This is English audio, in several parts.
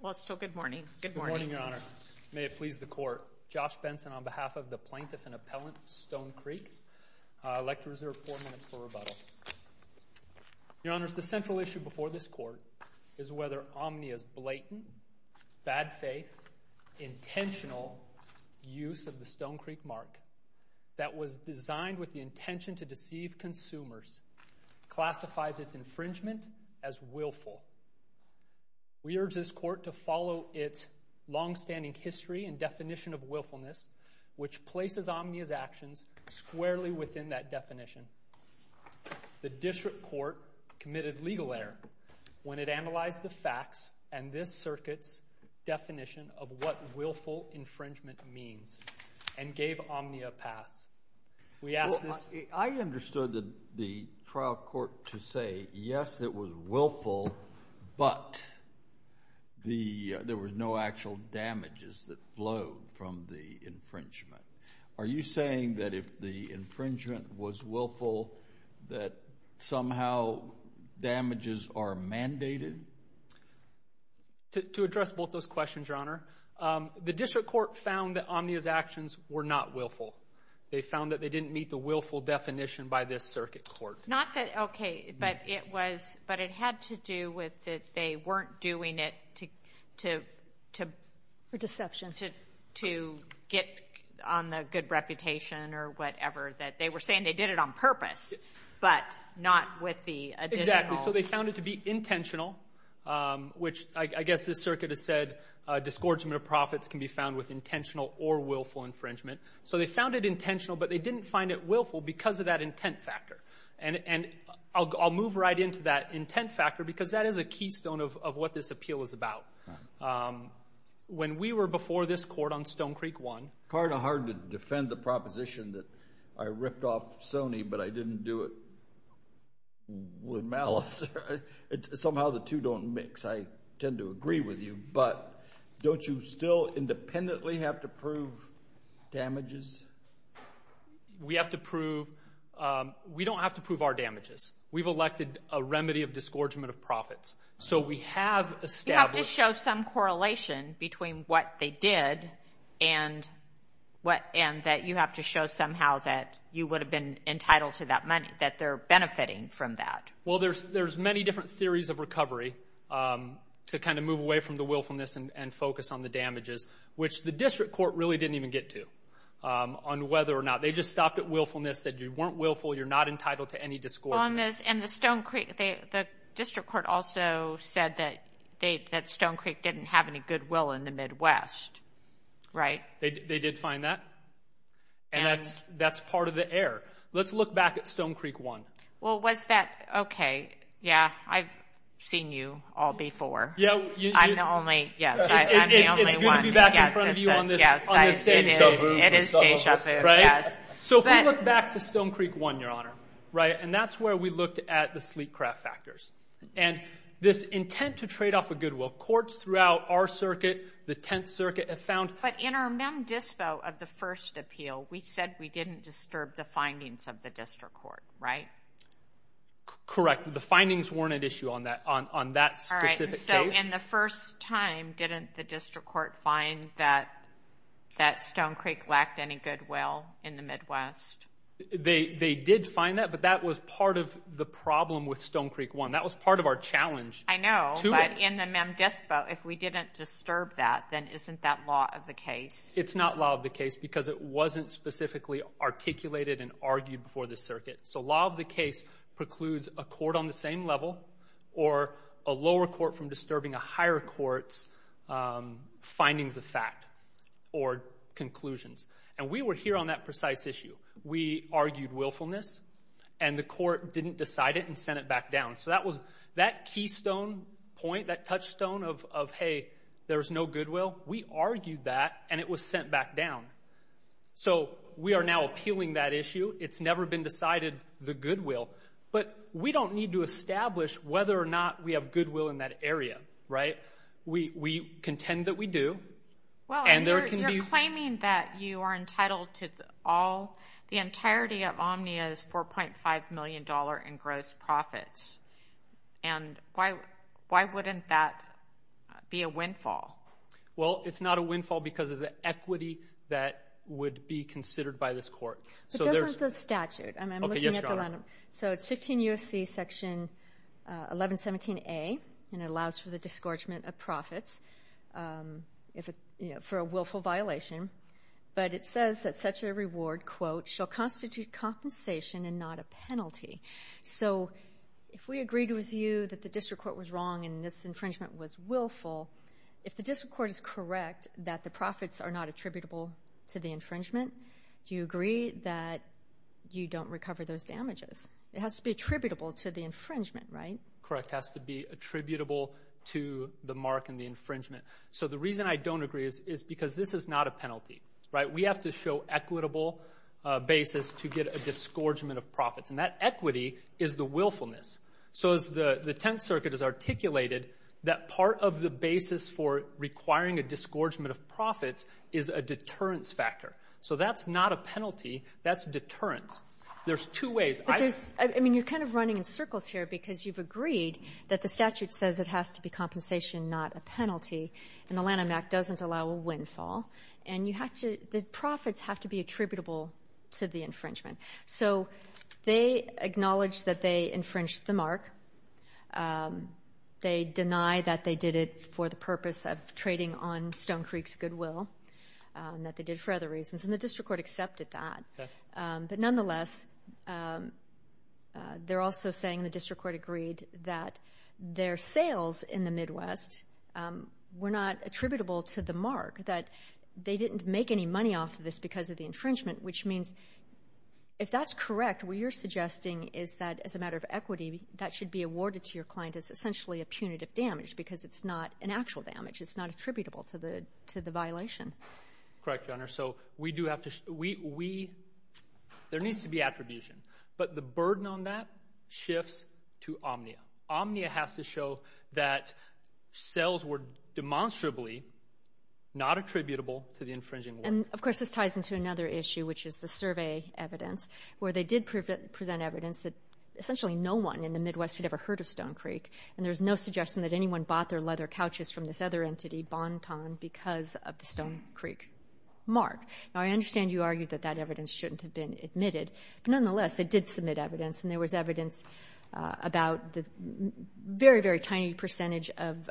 Well, it's still good morning. Good morning, Your Honor. May it please the Court. Josh Benson on behalf of the plaintiff and appellant Stone Creek. I'd like to reserve four minutes for rebuttal. Your Honor, the central issue before this court is whether Omnia's blatant, bad-faith, intentional use of the Stone Creek mark that was designed with the intention to deceive consumers classifies its infringement as willful. We urge this court to follow its long-standing history and definition of willfulness, which places Omnia's actions squarely within that definition. The district court committed legal error when it analyzed the facts and this circuit's definition of what willful to say, yes, it was willful, but there was no actual damages that flowed from the infringement. Are you saying that if the infringement was willful that somehow damages are mandated? To address both those questions, Your Honor, the district court found that Omnia's actions were not willful. They found that they didn't meet the willful definition by this circuit court. Not that, okay, but it was, but it had to do with that they weren't doing it to, to, to, for deception, to, to get on the good reputation or whatever, that they were saying they did it on purpose, but not with the, exactly, so they found it to be intentional, which I guess this circuit has said disgorgement of profits can be found with intentional or willful infringement. So they found it intentional, but they didn't find it willful because of that intent factor. And, and I'll, I'll move right into that intent factor because that is a keystone of, of what this appeal is about. When we were before this court on Stone Creek One. Hard to defend the proposition that I ripped off Sony, but I didn't do it with malice. Somehow the two don't mix. I tend to agree with you, but don't you still independently have to prove damages? We have to prove, we don't have to prove our damages. We've elected a remedy of disgorgement of profits. So we have established. You have to show some correlation between what they did and what, and that you have to show somehow that you would have been entitled to that money, that they're benefiting from that. Well, there's, there's many different theories of recovery to kind of move away from the willfulness and, and focus on the damages, which the district court really didn't even get to, on whether or not. They just stopped at willfulness, said you weren't willful, you're not entitled to any disgorgement. On this, and the Stone Creek, they, the district court also said that they, that Stone Creek didn't have any goodwill in the Midwest, right? They, they did find that, and that's, that's part of the error. Let's look back at Stone Creek One. Well, was that, okay, yeah, I've seen you all before. Yeah. I'm the only, yes, I'm the only one. It's good to be back in front of you on this, on this stage. It is, it is deja vu for some of us. Right? So if we look back to Stone Creek One, Your Honor, right, and that's where we looked at the sleek craft factors, and this intent to trade off a goodwill. Courts throughout our circuit, the Tenth Circuit, have found. But in our mem dispo of the first appeal, we said we didn't disturb the findings of the district court, right? Correct. The findings weren't an issue on that, on that specific case. So in the first time, didn't the district court find that, that Stone Creek lacked any goodwill in the Midwest? They, they did find that, but that was part of the problem with Stone Creek One. That was part of our challenge. I know, but in the mem dispo, if we didn't disturb that, then isn't that law of the case? It's not law of the case because it wasn't specifically articulated and argued before the circuit. So law of the case precludes a or a lower court from disturbing a higher court's findings of fact or conclusions. And we were here on that precise issue. We argued willfulness, and the court didn't decide it and sent it back down. So that was that keystone point, that touchstone of, of, hey, there's no goodwill. We argued that, and it was sent back down. So we are now appealing that issue. It's never been established whether or not we have goodwill in that area, right? We, we contend that we do. Well, and you're, you're claiming that you are entitled to all, the entirety of Omnia's $4.5 million in gross profits. And why, why wouldn't that be a windfall? Well, it's not a windfall because of the equity that would be considered by this court. So there's... But doesn't the statute? I'm looking at the... Okay, yes, Your Honor. So it's 15 U.S.C. Section 1117A, and it allows for the disgorgement of profits, if it, you know, for a willful violation. But it says that such a reward, quote, shall constitute compensation and not a penalty. So if we agreed with you that the district court was wrong and this infringement was willful, if the district court is correct that the profits are not attributable to the infringement, do you agree that you don't recover those damages? It has to be attributable to the infringement, right? Correct. Has to be attributable to the mark and the infringement. So the reason I don't agree is, is because this is not a penalty, right? We have to show equitable basis to get a disgorgement of profits. And that equity is the willfulness. So as the, the Tenth Circuit has articulated that part of the basis for requiring a disgorgement of a penalty, that's deterrence. There's two ways. But there's, I mean, you're kind of running in circles here because you've agreed that the statute says it has to be compensation, not a penalty. And the Lanham Act doesn't allow a windfall. And you have to, the profits have to be attributable to the infringement. So they acknowledge that they infringed the mark. They deny that they did it for the purpose of trading on Stone Creek's goodwill, that they did it for other reasons. And the district court accepted that. But nonetheless, they're also saying the district court agreed that their sales in the Midwest were not attributable to the mark. That they didn't make any money off this because of the infringement, which means, if that's correct, what you're suggesting is that as a matter of equity, that should be awarded to your client as essentially a punitive damage because it's not an actual damage. It's attributable to the violation. Correct, Your Honor. So we do have to, we, there needs to be attribution. But the burden on that shifts to omnia. Omnia has to show that sales were demonstrably not attributable to the infringing. And of course, this ties into another issue, which is the survey evidence, where they did present evidence that essentially no one in the Midwest had ever heard of Stone Creek. And there's no suggestion that anyone bought their leather couches from this other entity, Bon Ton, because of the Stone Creek mark. Now, I understand you argued that that evidence shouldn't have been admitted. But nonetheless, they did submit evidence. And there was evidence about the very, very tiny percentage of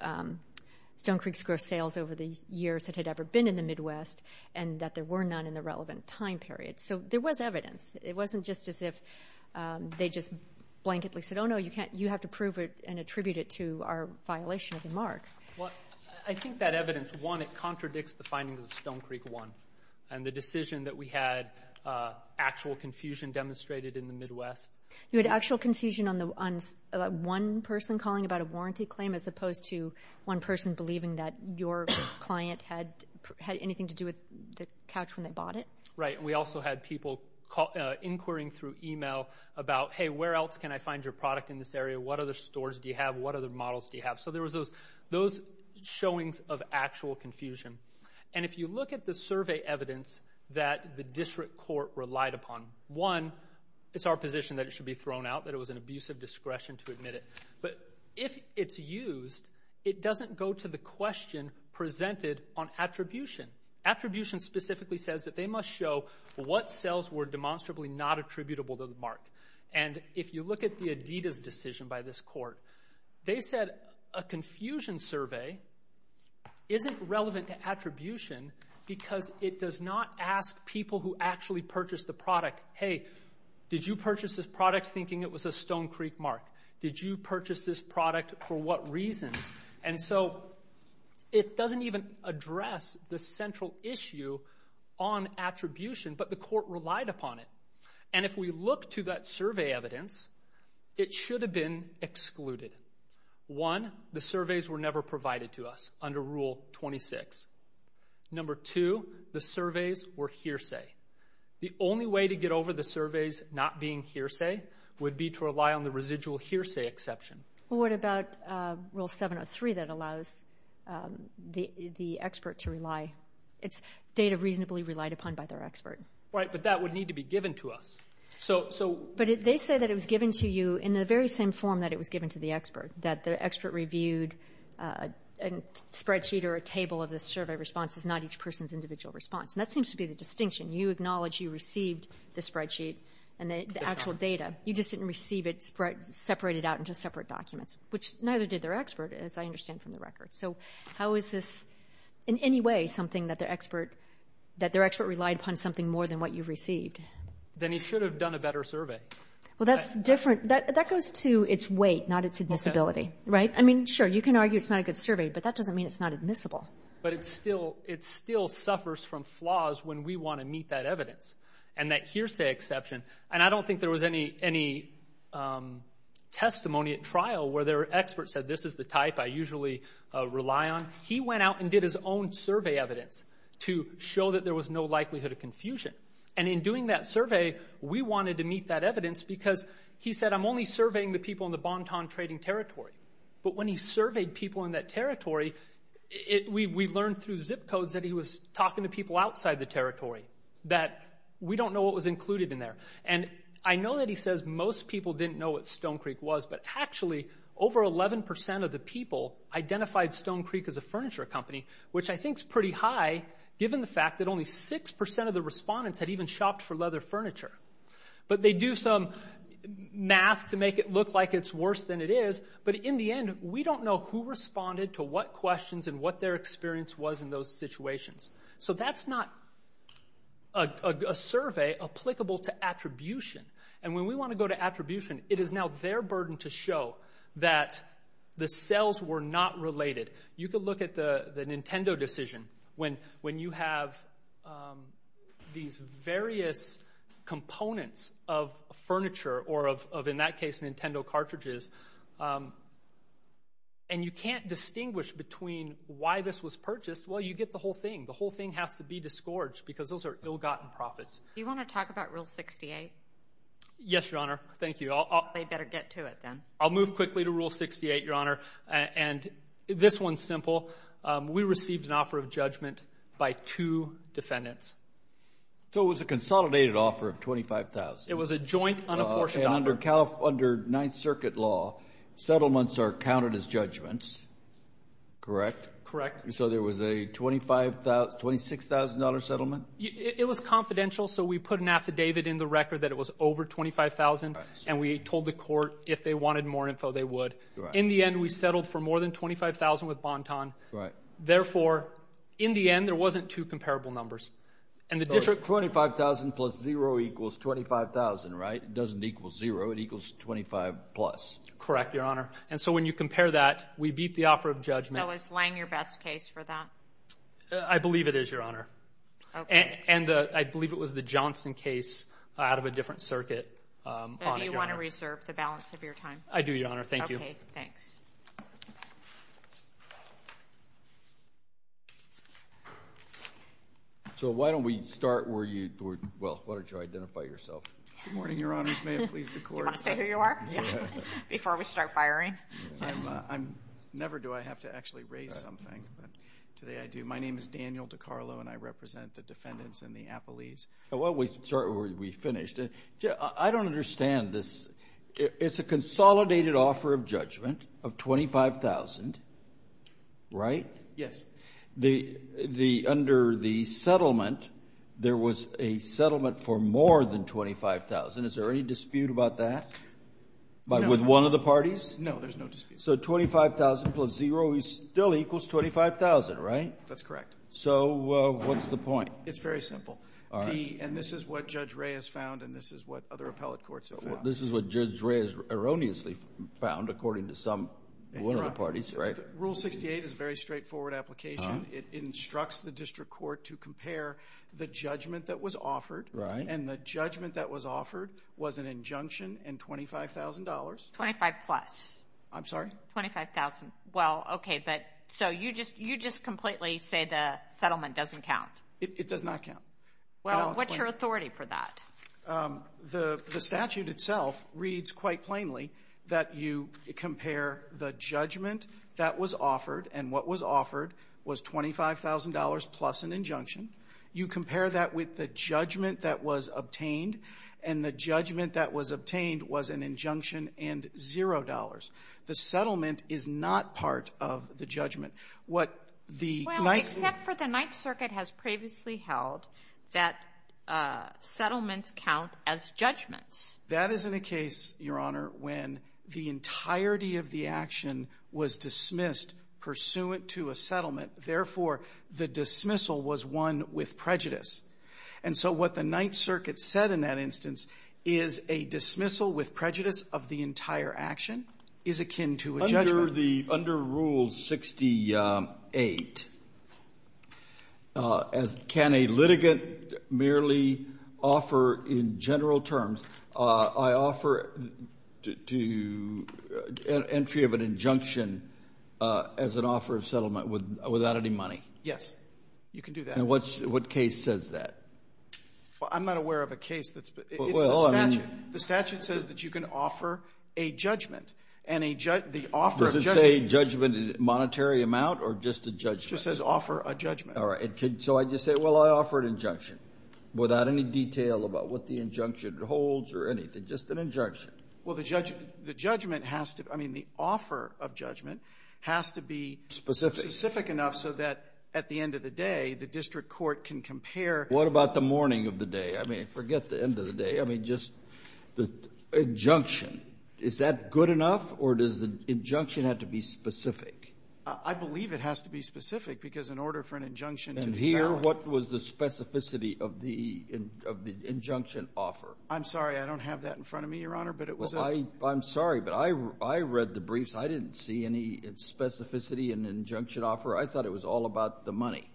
Stone Creek's gross sales over the years that had ever been in the Midwest, and that there were none in the relevant time period. So there was evidence. It wasn't just as if they just blanketly said, oh, no, you can't, you have to prove it and attribute it to our violation of the mark. Well, I think that evidence, one, it contradicts the findings of Stone Creek one, and the decision that we had actual confusion demonstrated in the Midwest. You had actual confusion on the one person calling about a warranty claim as opposed to one person believing that your client had anything to do with the couch when they bought it? Right. And we also had people inquiring through email about, hey, where else can I find your product in this area? What other stores do you have? What other showings of actual confusion? And if you look at the survey evidence that the district court relied upon, one, it's our position that it should be thrown out, that it was an abuse of discretion to admit it. But if it's used, it doesn't go to the question presented on attribution. Attribution specifically says that they must show what sales were demonstrably not attributable to the mark. And if you look at the Adidas decision by this court, they said a confusion survey isn't relevant to attribution because it does not ask people who actually purchased the product, hey, did you purchase this product thinking it was a Stone Creek mark? Did you purchase this product for what reasons? And so it doesn't even address the central issue on attribution, but the court relied upon it. And if we look to that survey evidence, it should have been excluded. One, the surveys were never provided to us under Rule 26. Number two, the surveys were hearsay. The only way to get over the surveys not being hearsay would be to rely on the residual hearsay exception. Well, what about Rule 703 that allows the expert to rely? It's data reasonably relied upon by their expert. Right. But that would need to be given to us. So, so But they say that it was given to you in the very same form that it was given to the expert, that the expert reviewed a spreadsheet or a table of the survey responses, not each person's individual response. And that seems to be the distinction. You acknowledge you received the spreadsheet and the actual data. You just didn't receive it separated out into separate documents, which neither did their expert, as I understand from the record. So how is this in any way something that their expert, that their expert relied upon something more than what you've received? Then he should have done a better survey. Well, that's different. That, that goes to its weight, not its admissibility. Right? I mean, sure, you can argue it's not a good survey, but that doesn't mean it's not admissible. But it's still, it still suffers from flaws when we want to meet that evidence and that hearsay exception. And I don't think there was any, any testimony at trial where their expert said, this is the type I usually rely on. He went out and did his own survey evidence to show that there was no likelihood of confusion. And in doing that survey, we wanted to meet that evidence because he said, I'm only surveying the people in the Banton trading territory. But when he surveyed people in that territory, it, we, we learned through zip codes that he was talking to people outside the territory, that we don't know what was included in there. And I know that he says most people didn't know what Stone Creek was, but actually over 11% of the people identified Stone Creek as a which I think's pretty high, given the fact that only 6% of the respondents had even shopped for leather furniture. But they do some math to make it look like it's worse than it is. But in the end, we don't know who responded to what questions and what their experience was in those situations. So that's not a survey applicable to attribution. And when we want to go to attribution, it is now their burden to show that the sales were not related. You could look at the, uh, Nintendo decision when, when you have, um, these various components of furniture or of, of, in that case, Nintendo cartridges. Um, and you can't distinguish between why this was purchased. Well, you get the whole thing. The whole thing has to be disgorge because those are ill gotten profits. You want to talk about Rule 68? Yes, Your Honor. Thank you. They better get to it. Then I'll move quickly to Rule 68, Your Honor. And this one's simple. We received an offer of judgment by two defendants. So it was a consolidated offer of $25,000. It was a joint, unapportioned offer. And under Ninth Circuit law, settlements are counted as judgments. Correct? Correct. So there was a $25,000, $26,000 settlement? It was confidential. So we put an affidavit in the record that it was over $25,000. And we told the court if they wanted more info, they would. In the end, we settled for more than $25,000 with Bonton. Right. Therefore, in the end, there wasn't two comparable numbers. And the district $25,000 plus zero equals $25,000, right? It doesn't equal zero. It equals 25 plus. Correct, Your Honor. And so when you compare that, we beat the offer of judgment. Was Lange your best case for that? I believe it is, Your Honor. And I believe it was the Johnson case out of a different circuit. Um, do you want to reserve the balance of your time? I do, Your Honor. So why don't we start where you, well, why don't you identify yourself? Good morning, Your Honors. May it please the court. Do you want to say who you are before we start firing? I never do. I have to actually raise something, but today I do. My name is Daniel DeCarlo, and I represent the defendants in the Appalese. Why don't we start where we finished? I don't understand this. It's a consolidated offer of judgment of $25,000, right? Yes. Under the settlement, there was a settlement for more than $25,000. Is there any dispute about that with one of the parties? No, there's no dispute. So $25,000 plus zero still equals $25,000, right? That's correct. So what's the point? It's very simple. And this is what Judge Ray has found, and this is what other appellate courts have found. This is what Judge Ray has erroneously found, according to some, one of the parties, right? Rule 68 is a very straightforward application. It instructs the district court to compare the judgment that was offered, and the judgment that was offered was an injunction and $25,000. Twenty-five plus. I'm sorry? Twenty-five thousand. Well, okay, but so you just completely say the settlement doesn't count. It does not count. Well, what's your authority for that? The statute itself reads quite plainly that you compare the judgment that was offered, and what was offered was $25,000 plus an injunction. You compare that with the judgment that was obtained, and the judgment that was obtained was an injunction and zero dollars. The settlement is not part of the judgment. What the Ninth Circuit Well, except for the Ninth Circuit has previously held that settlements count as judgments. That is in a case, Your Honor, when the entirety of the action was dismissed pursuant to a settlement. Therefore, the dismissal was one with prejudice. And so what the Ninth Circuit said in that instance is a dismissal with prejudice of the entire action is akin to a judgment. Under the under Rule 68, can a litigant merely offer a settlement that is not a judgment in general terms? I offer to entry of an injunction as an offer of settlement without any money. Yes, you can do that. And what case says that? Well, I'm not aware of a case that's been. It's the statute. The statute says that you can offer a judgment, and the offer of judgment Does it say judgment in monetary amount or just a judgment? It just says offer a judgment. All right. So I just say, well, I offer an injunction without any detail about what the injunction holds or anything, just an injunction. Well, the judgment has to, I mean, the offer of judgment has to be specific enough so that at the end of the day, the district court can compare. What about the morning of the day? I mean, forget the end of the day. I mean, just the injunction. Is that good enough or does the injunction have to be specific? I believe it has to be specific because in order for an injunction to be valid. What was the specificity of the injunction offer? I'm sorry. I don't have that in front of me, Your Honor, but it was a. I'm sorry, but I read the briefs. I didn't see any specificity in the injunction offer. I thought it was all about the money.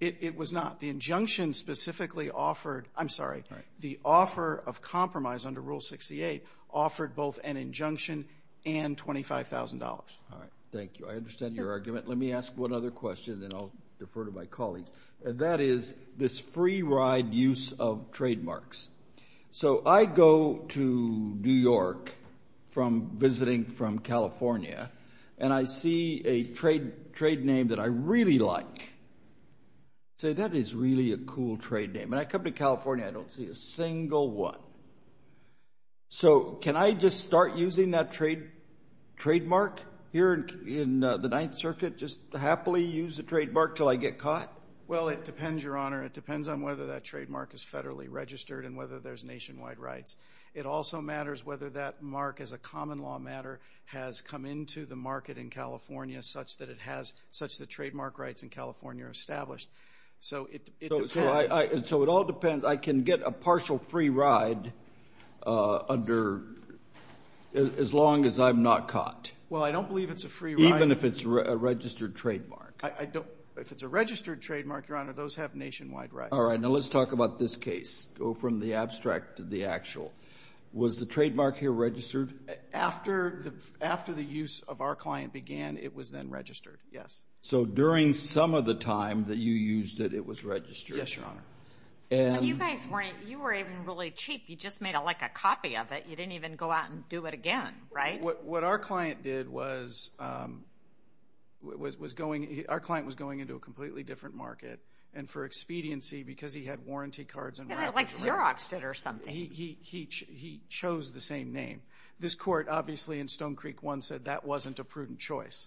It was not. The injunction specifically offered, I'm sorry, the offer of compromise under Rule 68 offered both an injunction and $25,000. All right. Thank you. I understand your argument. Let me ask one other question and then I'll defer to my colleagues. That is this free ride use of trademarks. So I go to New York from visiting from California, and I see a trade name that I really like. I say, that is really a cool trade name. And I come to California, I don't see a single one. So can I just start using that trademark here in the Ninth Circuit, just happily use the trademark until I get caught? Well, it depends, Your Honor. It depends on whether that trademark is federally registered and whether there's nationwide rights. It also matters whether that mark as a common law matter has come into the market in California such that it has, such that trademark rights in California are established. So it depends. So it all depends. I can get a partial free ride under, as long as I'm not caught? Well, I don't believe it's a free ride. Even if it's a registered trademark? I don't, if it's a registered trademark, Your Honor, those have nationwide rights. All right. Now let's talk about this case. Go from the abstract to the actual. Was the trademark here registered? After the, after the use of our client began, it was then registered. Yes. So during some of the time that you used it, it was registered? Yes, Your Honor. And- You guys weren't, you were even really cheap. You just made like a copy of it. You didn't even go out and do it again, right? What our client did was, was, was going, our client was going into a completely different market and for expediency, because he had warranty cards and- Like Xeroxed it or something. He chose the same name. This court, obviously, in Stone Creek One said that wasn't a prudent choice.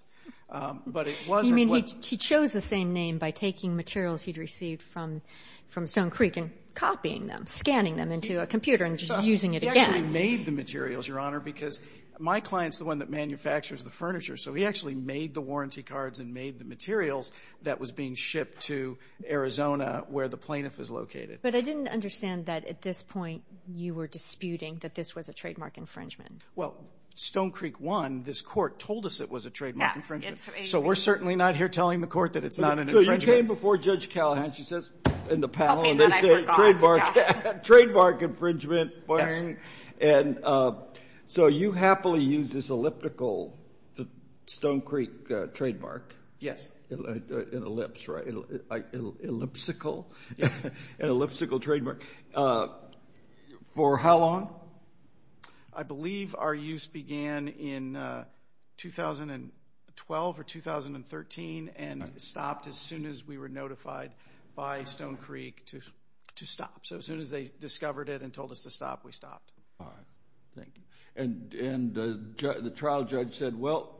But it wasn't- You mean he chose the same name by taking materials he'd received from, from Stone Creek and copying them, scanning them into a computer and just using it again? He actually made the materials, Your Honor, because my client's the one that manufactures the furniture. So he actually made the warranty cards and made the materials that was being shipped to Arizona, where the plaintiff is located. But I didn't understand that at this point, you were disputing that this was a trademark infringement. Well, Stone Creek One, this court told us it was a trademark infringement. Yeah, it's- So we're certainly not here telling the court that it's not an infringement. So you came before Judge Callahan, she says in the panel, and they say trademark, trademark infringement. Yes. And so you happily use this elliptical, the Stone Creek trademark. Yes. An ellipse, right? Ellipsical, an ellipsical trademark. For how long? I believe our use began in 2012 or 2013 and stopped as soon as we were notified by Stone Creek. We stopped. All right. Thank you. And the trial judge said, well,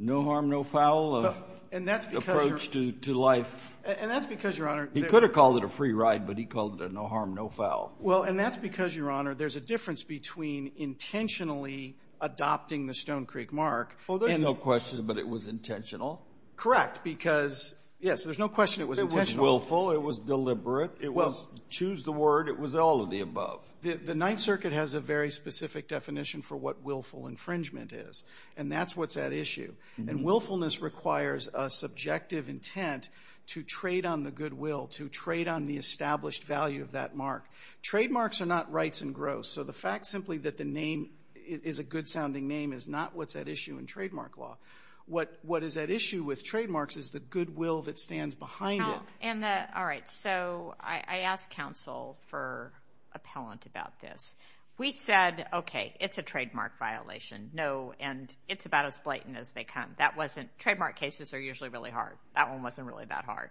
no harm, no foul approach to life. And that's because, Your Honor- He could have called it a free ride, but he called it a no harm, no foul. Well, and that's because, Your Honor, there's a difference between intentionally adopting the Stone Creek mark- And no question, but it was intentional? Correct. Because, yes, there's no question it was intentional. It was willful, it was deliberate, it was choose the word, it was all of the above. The Ninth Circuit has a very specific definition for what willful infringement is, and that's what's at issue. And willfulness requires a subjective intent to trade on the goodwill, to trade on the established value of that mark. Trademarks are not rights and gross. So the fact simply that the name is a good-sounding name is not what's at issue in trademark law. What is at issue with trademarks is the goodwill that stands behind it. All right. So I asked counsel for appellant about this. We said, okay, it's a trademark violation. No, and it's about as blatant as they come. That wasn't, trademark cases are usually really hard. That one wasn't really that hard.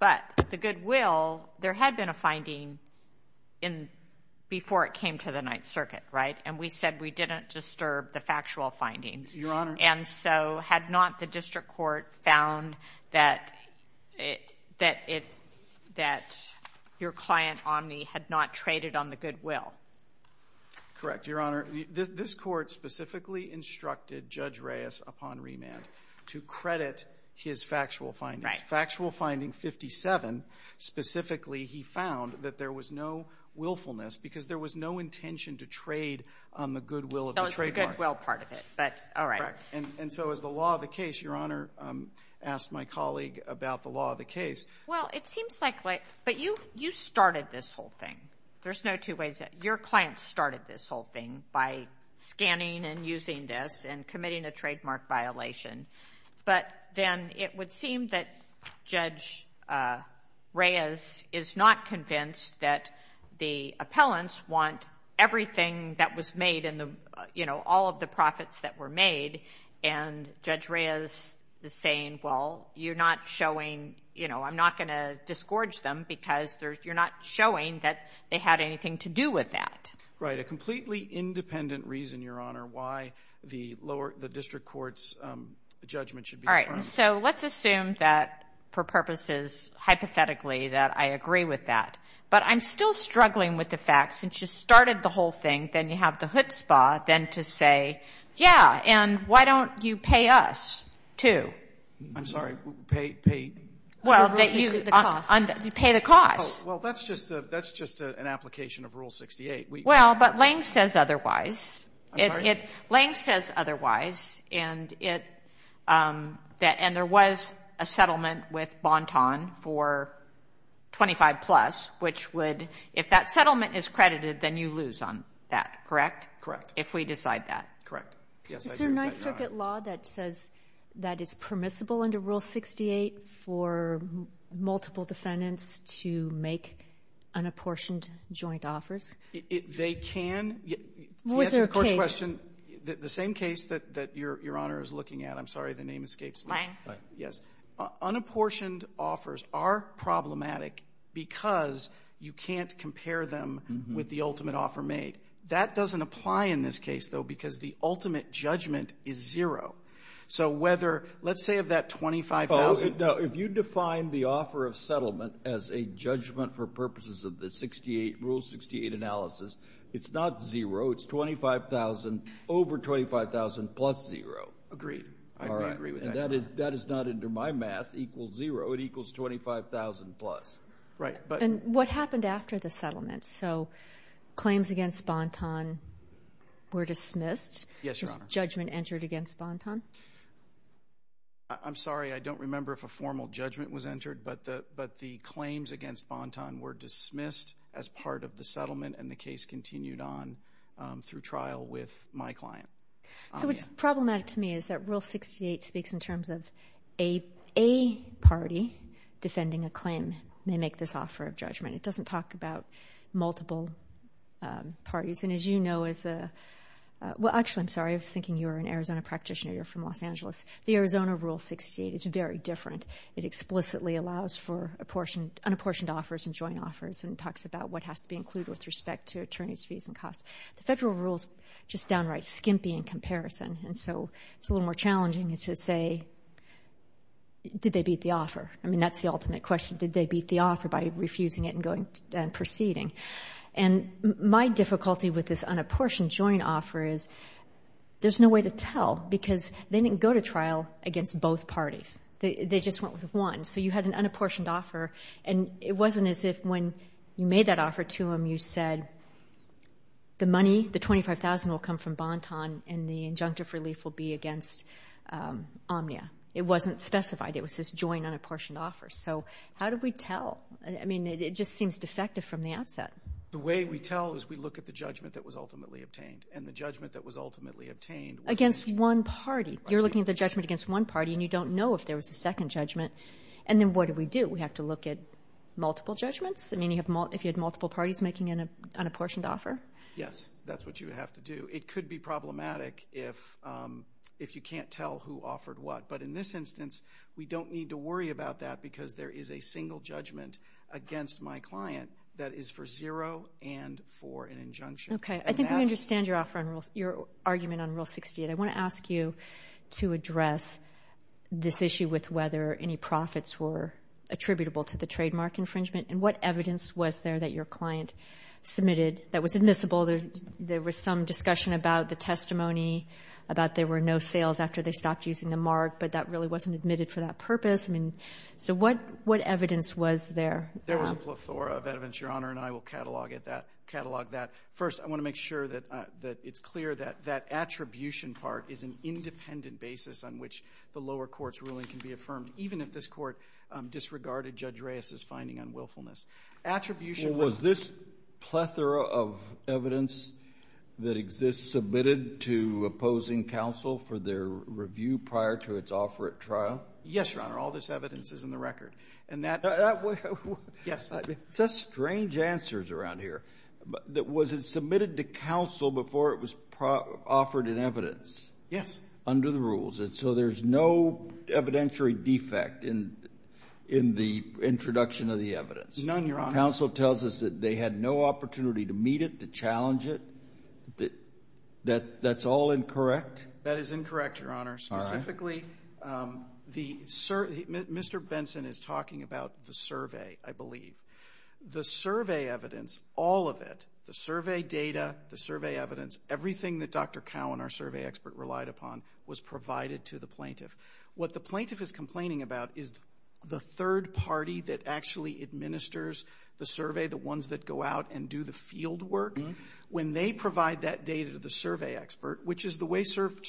But the goodwill, there had been a finding in, before it came to the Ninth Circuit, right? And we said we didn't disturb the factual findings. Your Honor. And so had not the district court found that your client Omni had not traded on the goodwill? Correct, Your Honor. This court specifically instructed Judge Reyes upon remand to credit his factual findings. Factual finding 57, specifically he found that there was no willfulness because there was no intention to trade on the goodwill of the trademark. That was the goodwill part of it. But, all right. Correct. And so as the law of the case, Your Honor, asked my colleague about the law of the case. Well, it seems like, but you started this whole thing. There's no two ways. Your client started this whole thing by scanning and using this and committing a trademark violation. But then it would seem that Judge Reyes is not convinced that the appellants want everything that was made in the, you know, all of the profits that were made. And Judge Reyes is saying, well, you're not showing, you know, I'm not going to disgorge them because you're not showing that they had anything to do with that. Right. A completely independent reason, Your Honor, why the lower, the district court's judgment should be firm. All right. So let's assume that for purposes, hypothetically, that I agree with that. But I'm still struggling with the facts. Since you started the whole thing, then you have the chutzpah then to say, yeah, and why don't you pay us, too? I'm sorry. Pay, pay. Well, you pay the cost. Well, that's just an application of Rule 68. Well, but Lane says otherwise. I'm sorry? Lane says otherwise. And there was a settlement with Bonton for 25 plus, which would, if that settlement is credited, then you lose on that, correct? Correct. If we decide that. Correct. Yes, I agree with that, Your Honor. Is there a Ninth Circuit law that says that it's permissible under Rule 68 for multiple defendants to make unapportioned joint offers? They can. Was there a case? To answer the court's question, the same case that Your Honor is looking at, I'm sorry, the name escapes me. Lane. Lane. Yes. Unapportioned offers are problematic because you can't compare them with the ultimate offer made. That doesn't apply in this case, though, because the ultimate judgment is zero. So whether, let's say of that 25,000. Oh, no. If you define the offer of settlement as a judgment for purposes of the 68, Rule 68 analysis, it's not zero. It's 25,000 over 25,000 plus zero. Agreed. I agree with that. That is not under my math, equals zero. It equals 25,000 plus. Right. And what happened after the settlement? So claims against Banton were dismissed? Yes, Your Honor. Is judgment entered against Banton? I'm sorry, I don't remember if a formal judgment was entered, but the claims against Banton were dismissed as part of the settlement and the case continued on through trial with my client. So what's problematic to me is that Rule 68 speaks in terms of a party defending a claim may make this offer of judgment. It doesn't talk about multiple parties. And as you know, as a, well, actually, I'm sorry. I was thinking you were an Arizona practitioner. You're from Los Angeles. The Arizona Rule 68 is very different. It explicitly allows for unapportioned offers and joint offers and talks about what has to be included with respect to attorney's fees and costs. The federal rule's just downright skimpy in comparison. And so it's a little more challenging to say, did they beat the offer? I mean, that's the ultimate question. Did they beat the offer by refusing it and going and proceeding? And my difficulty with this unapportioned joint offer is there's no way to tell because they didn't go to trial against both parties. They just went with one. So you had an unapportioned offer and it wasn't as if when you made that offer to them, you said the money, the $25,000, will come from Bonton and the injunctive relief will be against Omnia. It wasn't specified. It was this joint unapportioned offer. So how do we tell? I mean, it just seems defective from the outset. The way we tell is we look at the judgment that was ultimately obtained. And the judgment that was ultimately obtained was the judgment against one party. You're looking at the judgment against one party, and you don't know if there was a second judgment. And then what do we do? We have to look at multiple judgments? I mean, you had multiple parties making an unapportioned offer? Yes. That's what you would have to do. It could be problematic if you can't tell who offered what. But in this instance, we don't need to worry about that because there is a single judgment against my client that is for zero and for an injunction. Okay. I think I understand your argument on Rule 68. I want to ask you to address this issue with whether any profits were attributable to the trademark infringement and what evidence was there that your client submitted that was admissible. There was some discussion about the testimony about there were no sales after they stopped using the mark, but that really wasn't admitted for that purpose. I mean, so what evidence was there? There was a plethora of evidence, Your Honor, and I will catalog that. First, I want to make sure that it's clear that that attribution part is an independent basis on which the lower court's ruling can be affirmed, even if this court disregarded Judge Reyes's finding on willfulness. Was this plethora of evidence that exists submitted to opposing counsel for their review prior to its offer at trial? Yes, Your Honor. All this evidence is in the record. And that's strange answers around here. Was it submitted to counsel before it was offered in evidence? Yes. Under the rules. And so there's no evidentiary defect in the introduction of the evidence? None, Your Honor. Counsel tells us that they had no opportunity to meet it, to challenge it. That's all incorrect? That is incorrect, Your Honor. Specifically, Mr. Benson is talking about the survey, I believe. The survey evidence, all of it, the survey data, the survey evidence, everything that Dr. Cowan, our survey expert, relied upon, was provided to the plaintiff. What the plaintiff is complaining about is the third party that actually administers the survey, the ones that go out and do the field work, when they provide that data to the survey expert, which is the way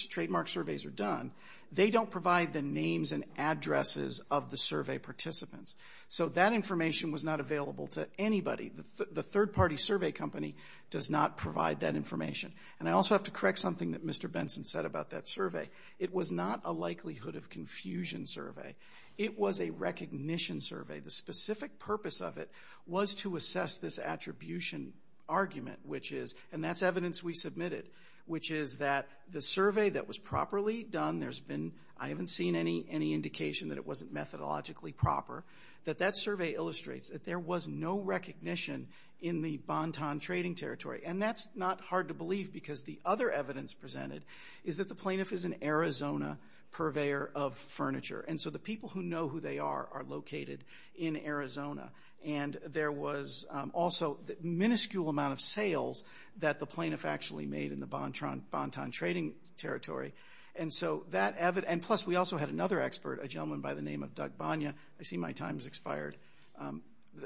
trademark surveys are done, they don't provide the names and addresses of the survey participants. So that information was not available to anybody. The third-party survey company does not provide that information. And I also have to correct something that Mr. Benson said about that survey. It was not a likelihood of confusion survey. It was a recognition survey. The specific purpose of it was to assess this attribution argument, which is, and that's evidence we submitted, which is that the survey that was properly done, there's been, I haven't seen any indication that it wasn't methodologically proper, that that survey illustrates that there was no recognition in the Bantan trading territory. And that's not hard to believe, because the other evidence presented is that the plaintiff is an Arizona purveyor of furniture. And so the people who know who they are are located in Arizona. And there was also the minuscule amount of sales that the plaintiff actually made in the Bantan trading territory. And so that evidence, and plus we also had another expert, a gentleman by the name of Doug Bonia. I see my time has expired.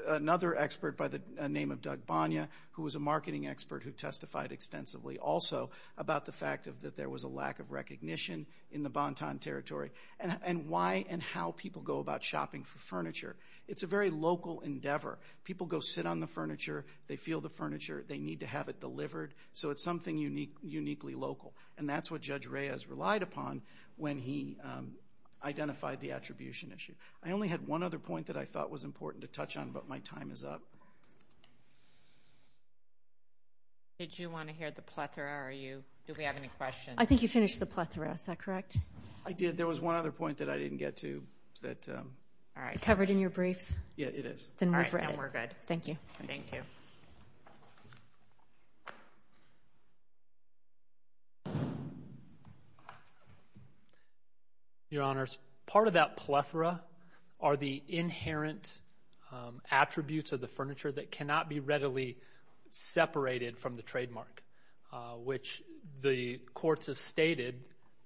Another marketing expert who testified extensively also about the fact that there was a lack of recognition in the Bantan territory. And why and how people go about shopping for furniture. It's a very local endeavor. People go sit on the furniture. They feel the furniture. They need to have it delivered. So it's something uniquely local. And that's what Judge Reyes relied upon when he identified the attribution issue. I only had one other point that I thought was important to touch on, but my time is up. Did you want to hear the plethora? Do we have any questions? I think you finished the plethora. Is that correct? I did. There was one other point that I didn't get to that... Covered in your briefs? Yeah, it is. Then we're good. Thank you. Thank you. Your Honors, part of that plethora are the inherent attributes of the furniture that cannot be readily separated from the trademark, which the courts have stated,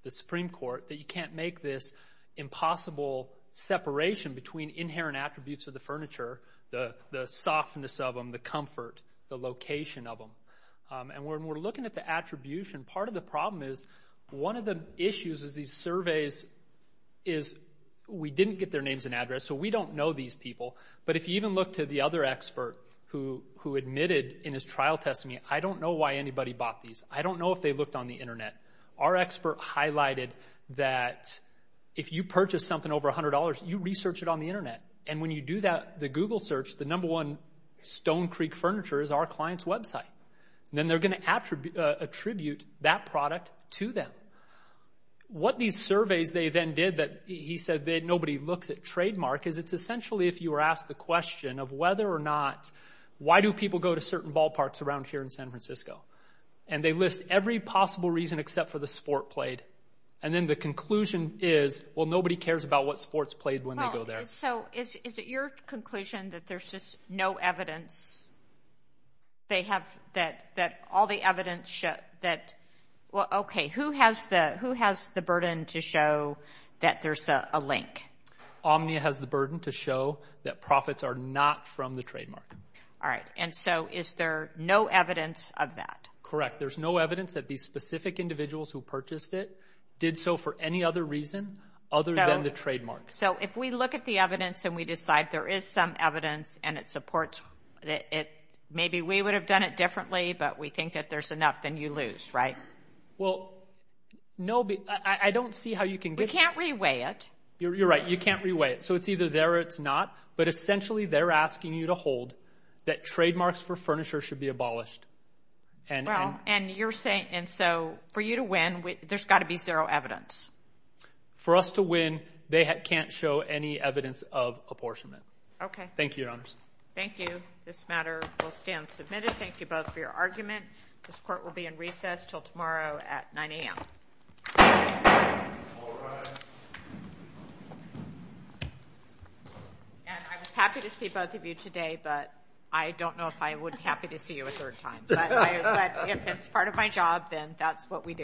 the Supreme Court, that you can't make this impossible separation between inherent attributes of furniture, the softness of them, the comfort, the location of them. And when we're looking at the attribution, part of the problem is one of the issues is these surveys is we didn't get their names and address, so we don't know these people. But if you even look to the other expert who admitted in his trial testimony, I don't know why anybody bought these. I don't know if they looked on the Internet. Our expert highlighted that if you purchase something over $100, you research it on the Internet. And when you do the Google search, the number one Stone Creek furniture is our client's website. Then they're going to attribute that product to them. What these surveys they then did that he said that nobody looks at trademark is it's essentially if you were asked the question of whether or not, why do people go to certain ballparks around here in San Francisco? And they list every possible reason except for the sport played. And then the conclusion is, well, nobody cares about what sports played when they go there. Well, so is it your conclusion that there's just no evidence? They have that all the evidence show that, well, okay, who has the burden to show that there's a link? Omnia has the burden to show that profits are not from the trademark. All right. And so is there no evidence of that? Correct. There's no evidence that these specific individuals who purchased it did so for any other reason other than the trademark. So if we look at the evidence and we decide there is some evidence and it supports that maybe we would have done it differently, but we think that there's enough, then you lose, right? Well, no, I don't see how you can get... We can't reweigh it. You're right. You can't reweigh it. So it's either there or it's not. But essentially, they're asking you to hold that trademarks for furniture should be abolished. And you're saying, and so for you to win, there's got to be zero evidence. For us to win, they can't show any evidence of apportionment. Okay. Thank you, Your Honors. Thank you. This matter will stand submitted. Thank you both for your argument. This court will be in recess till tomorrow at 9 a.m. All rise. And I was happy to see both of you today, but I don't know if I would be happy to see you a third time. But if it's part of my job, then that's what we do.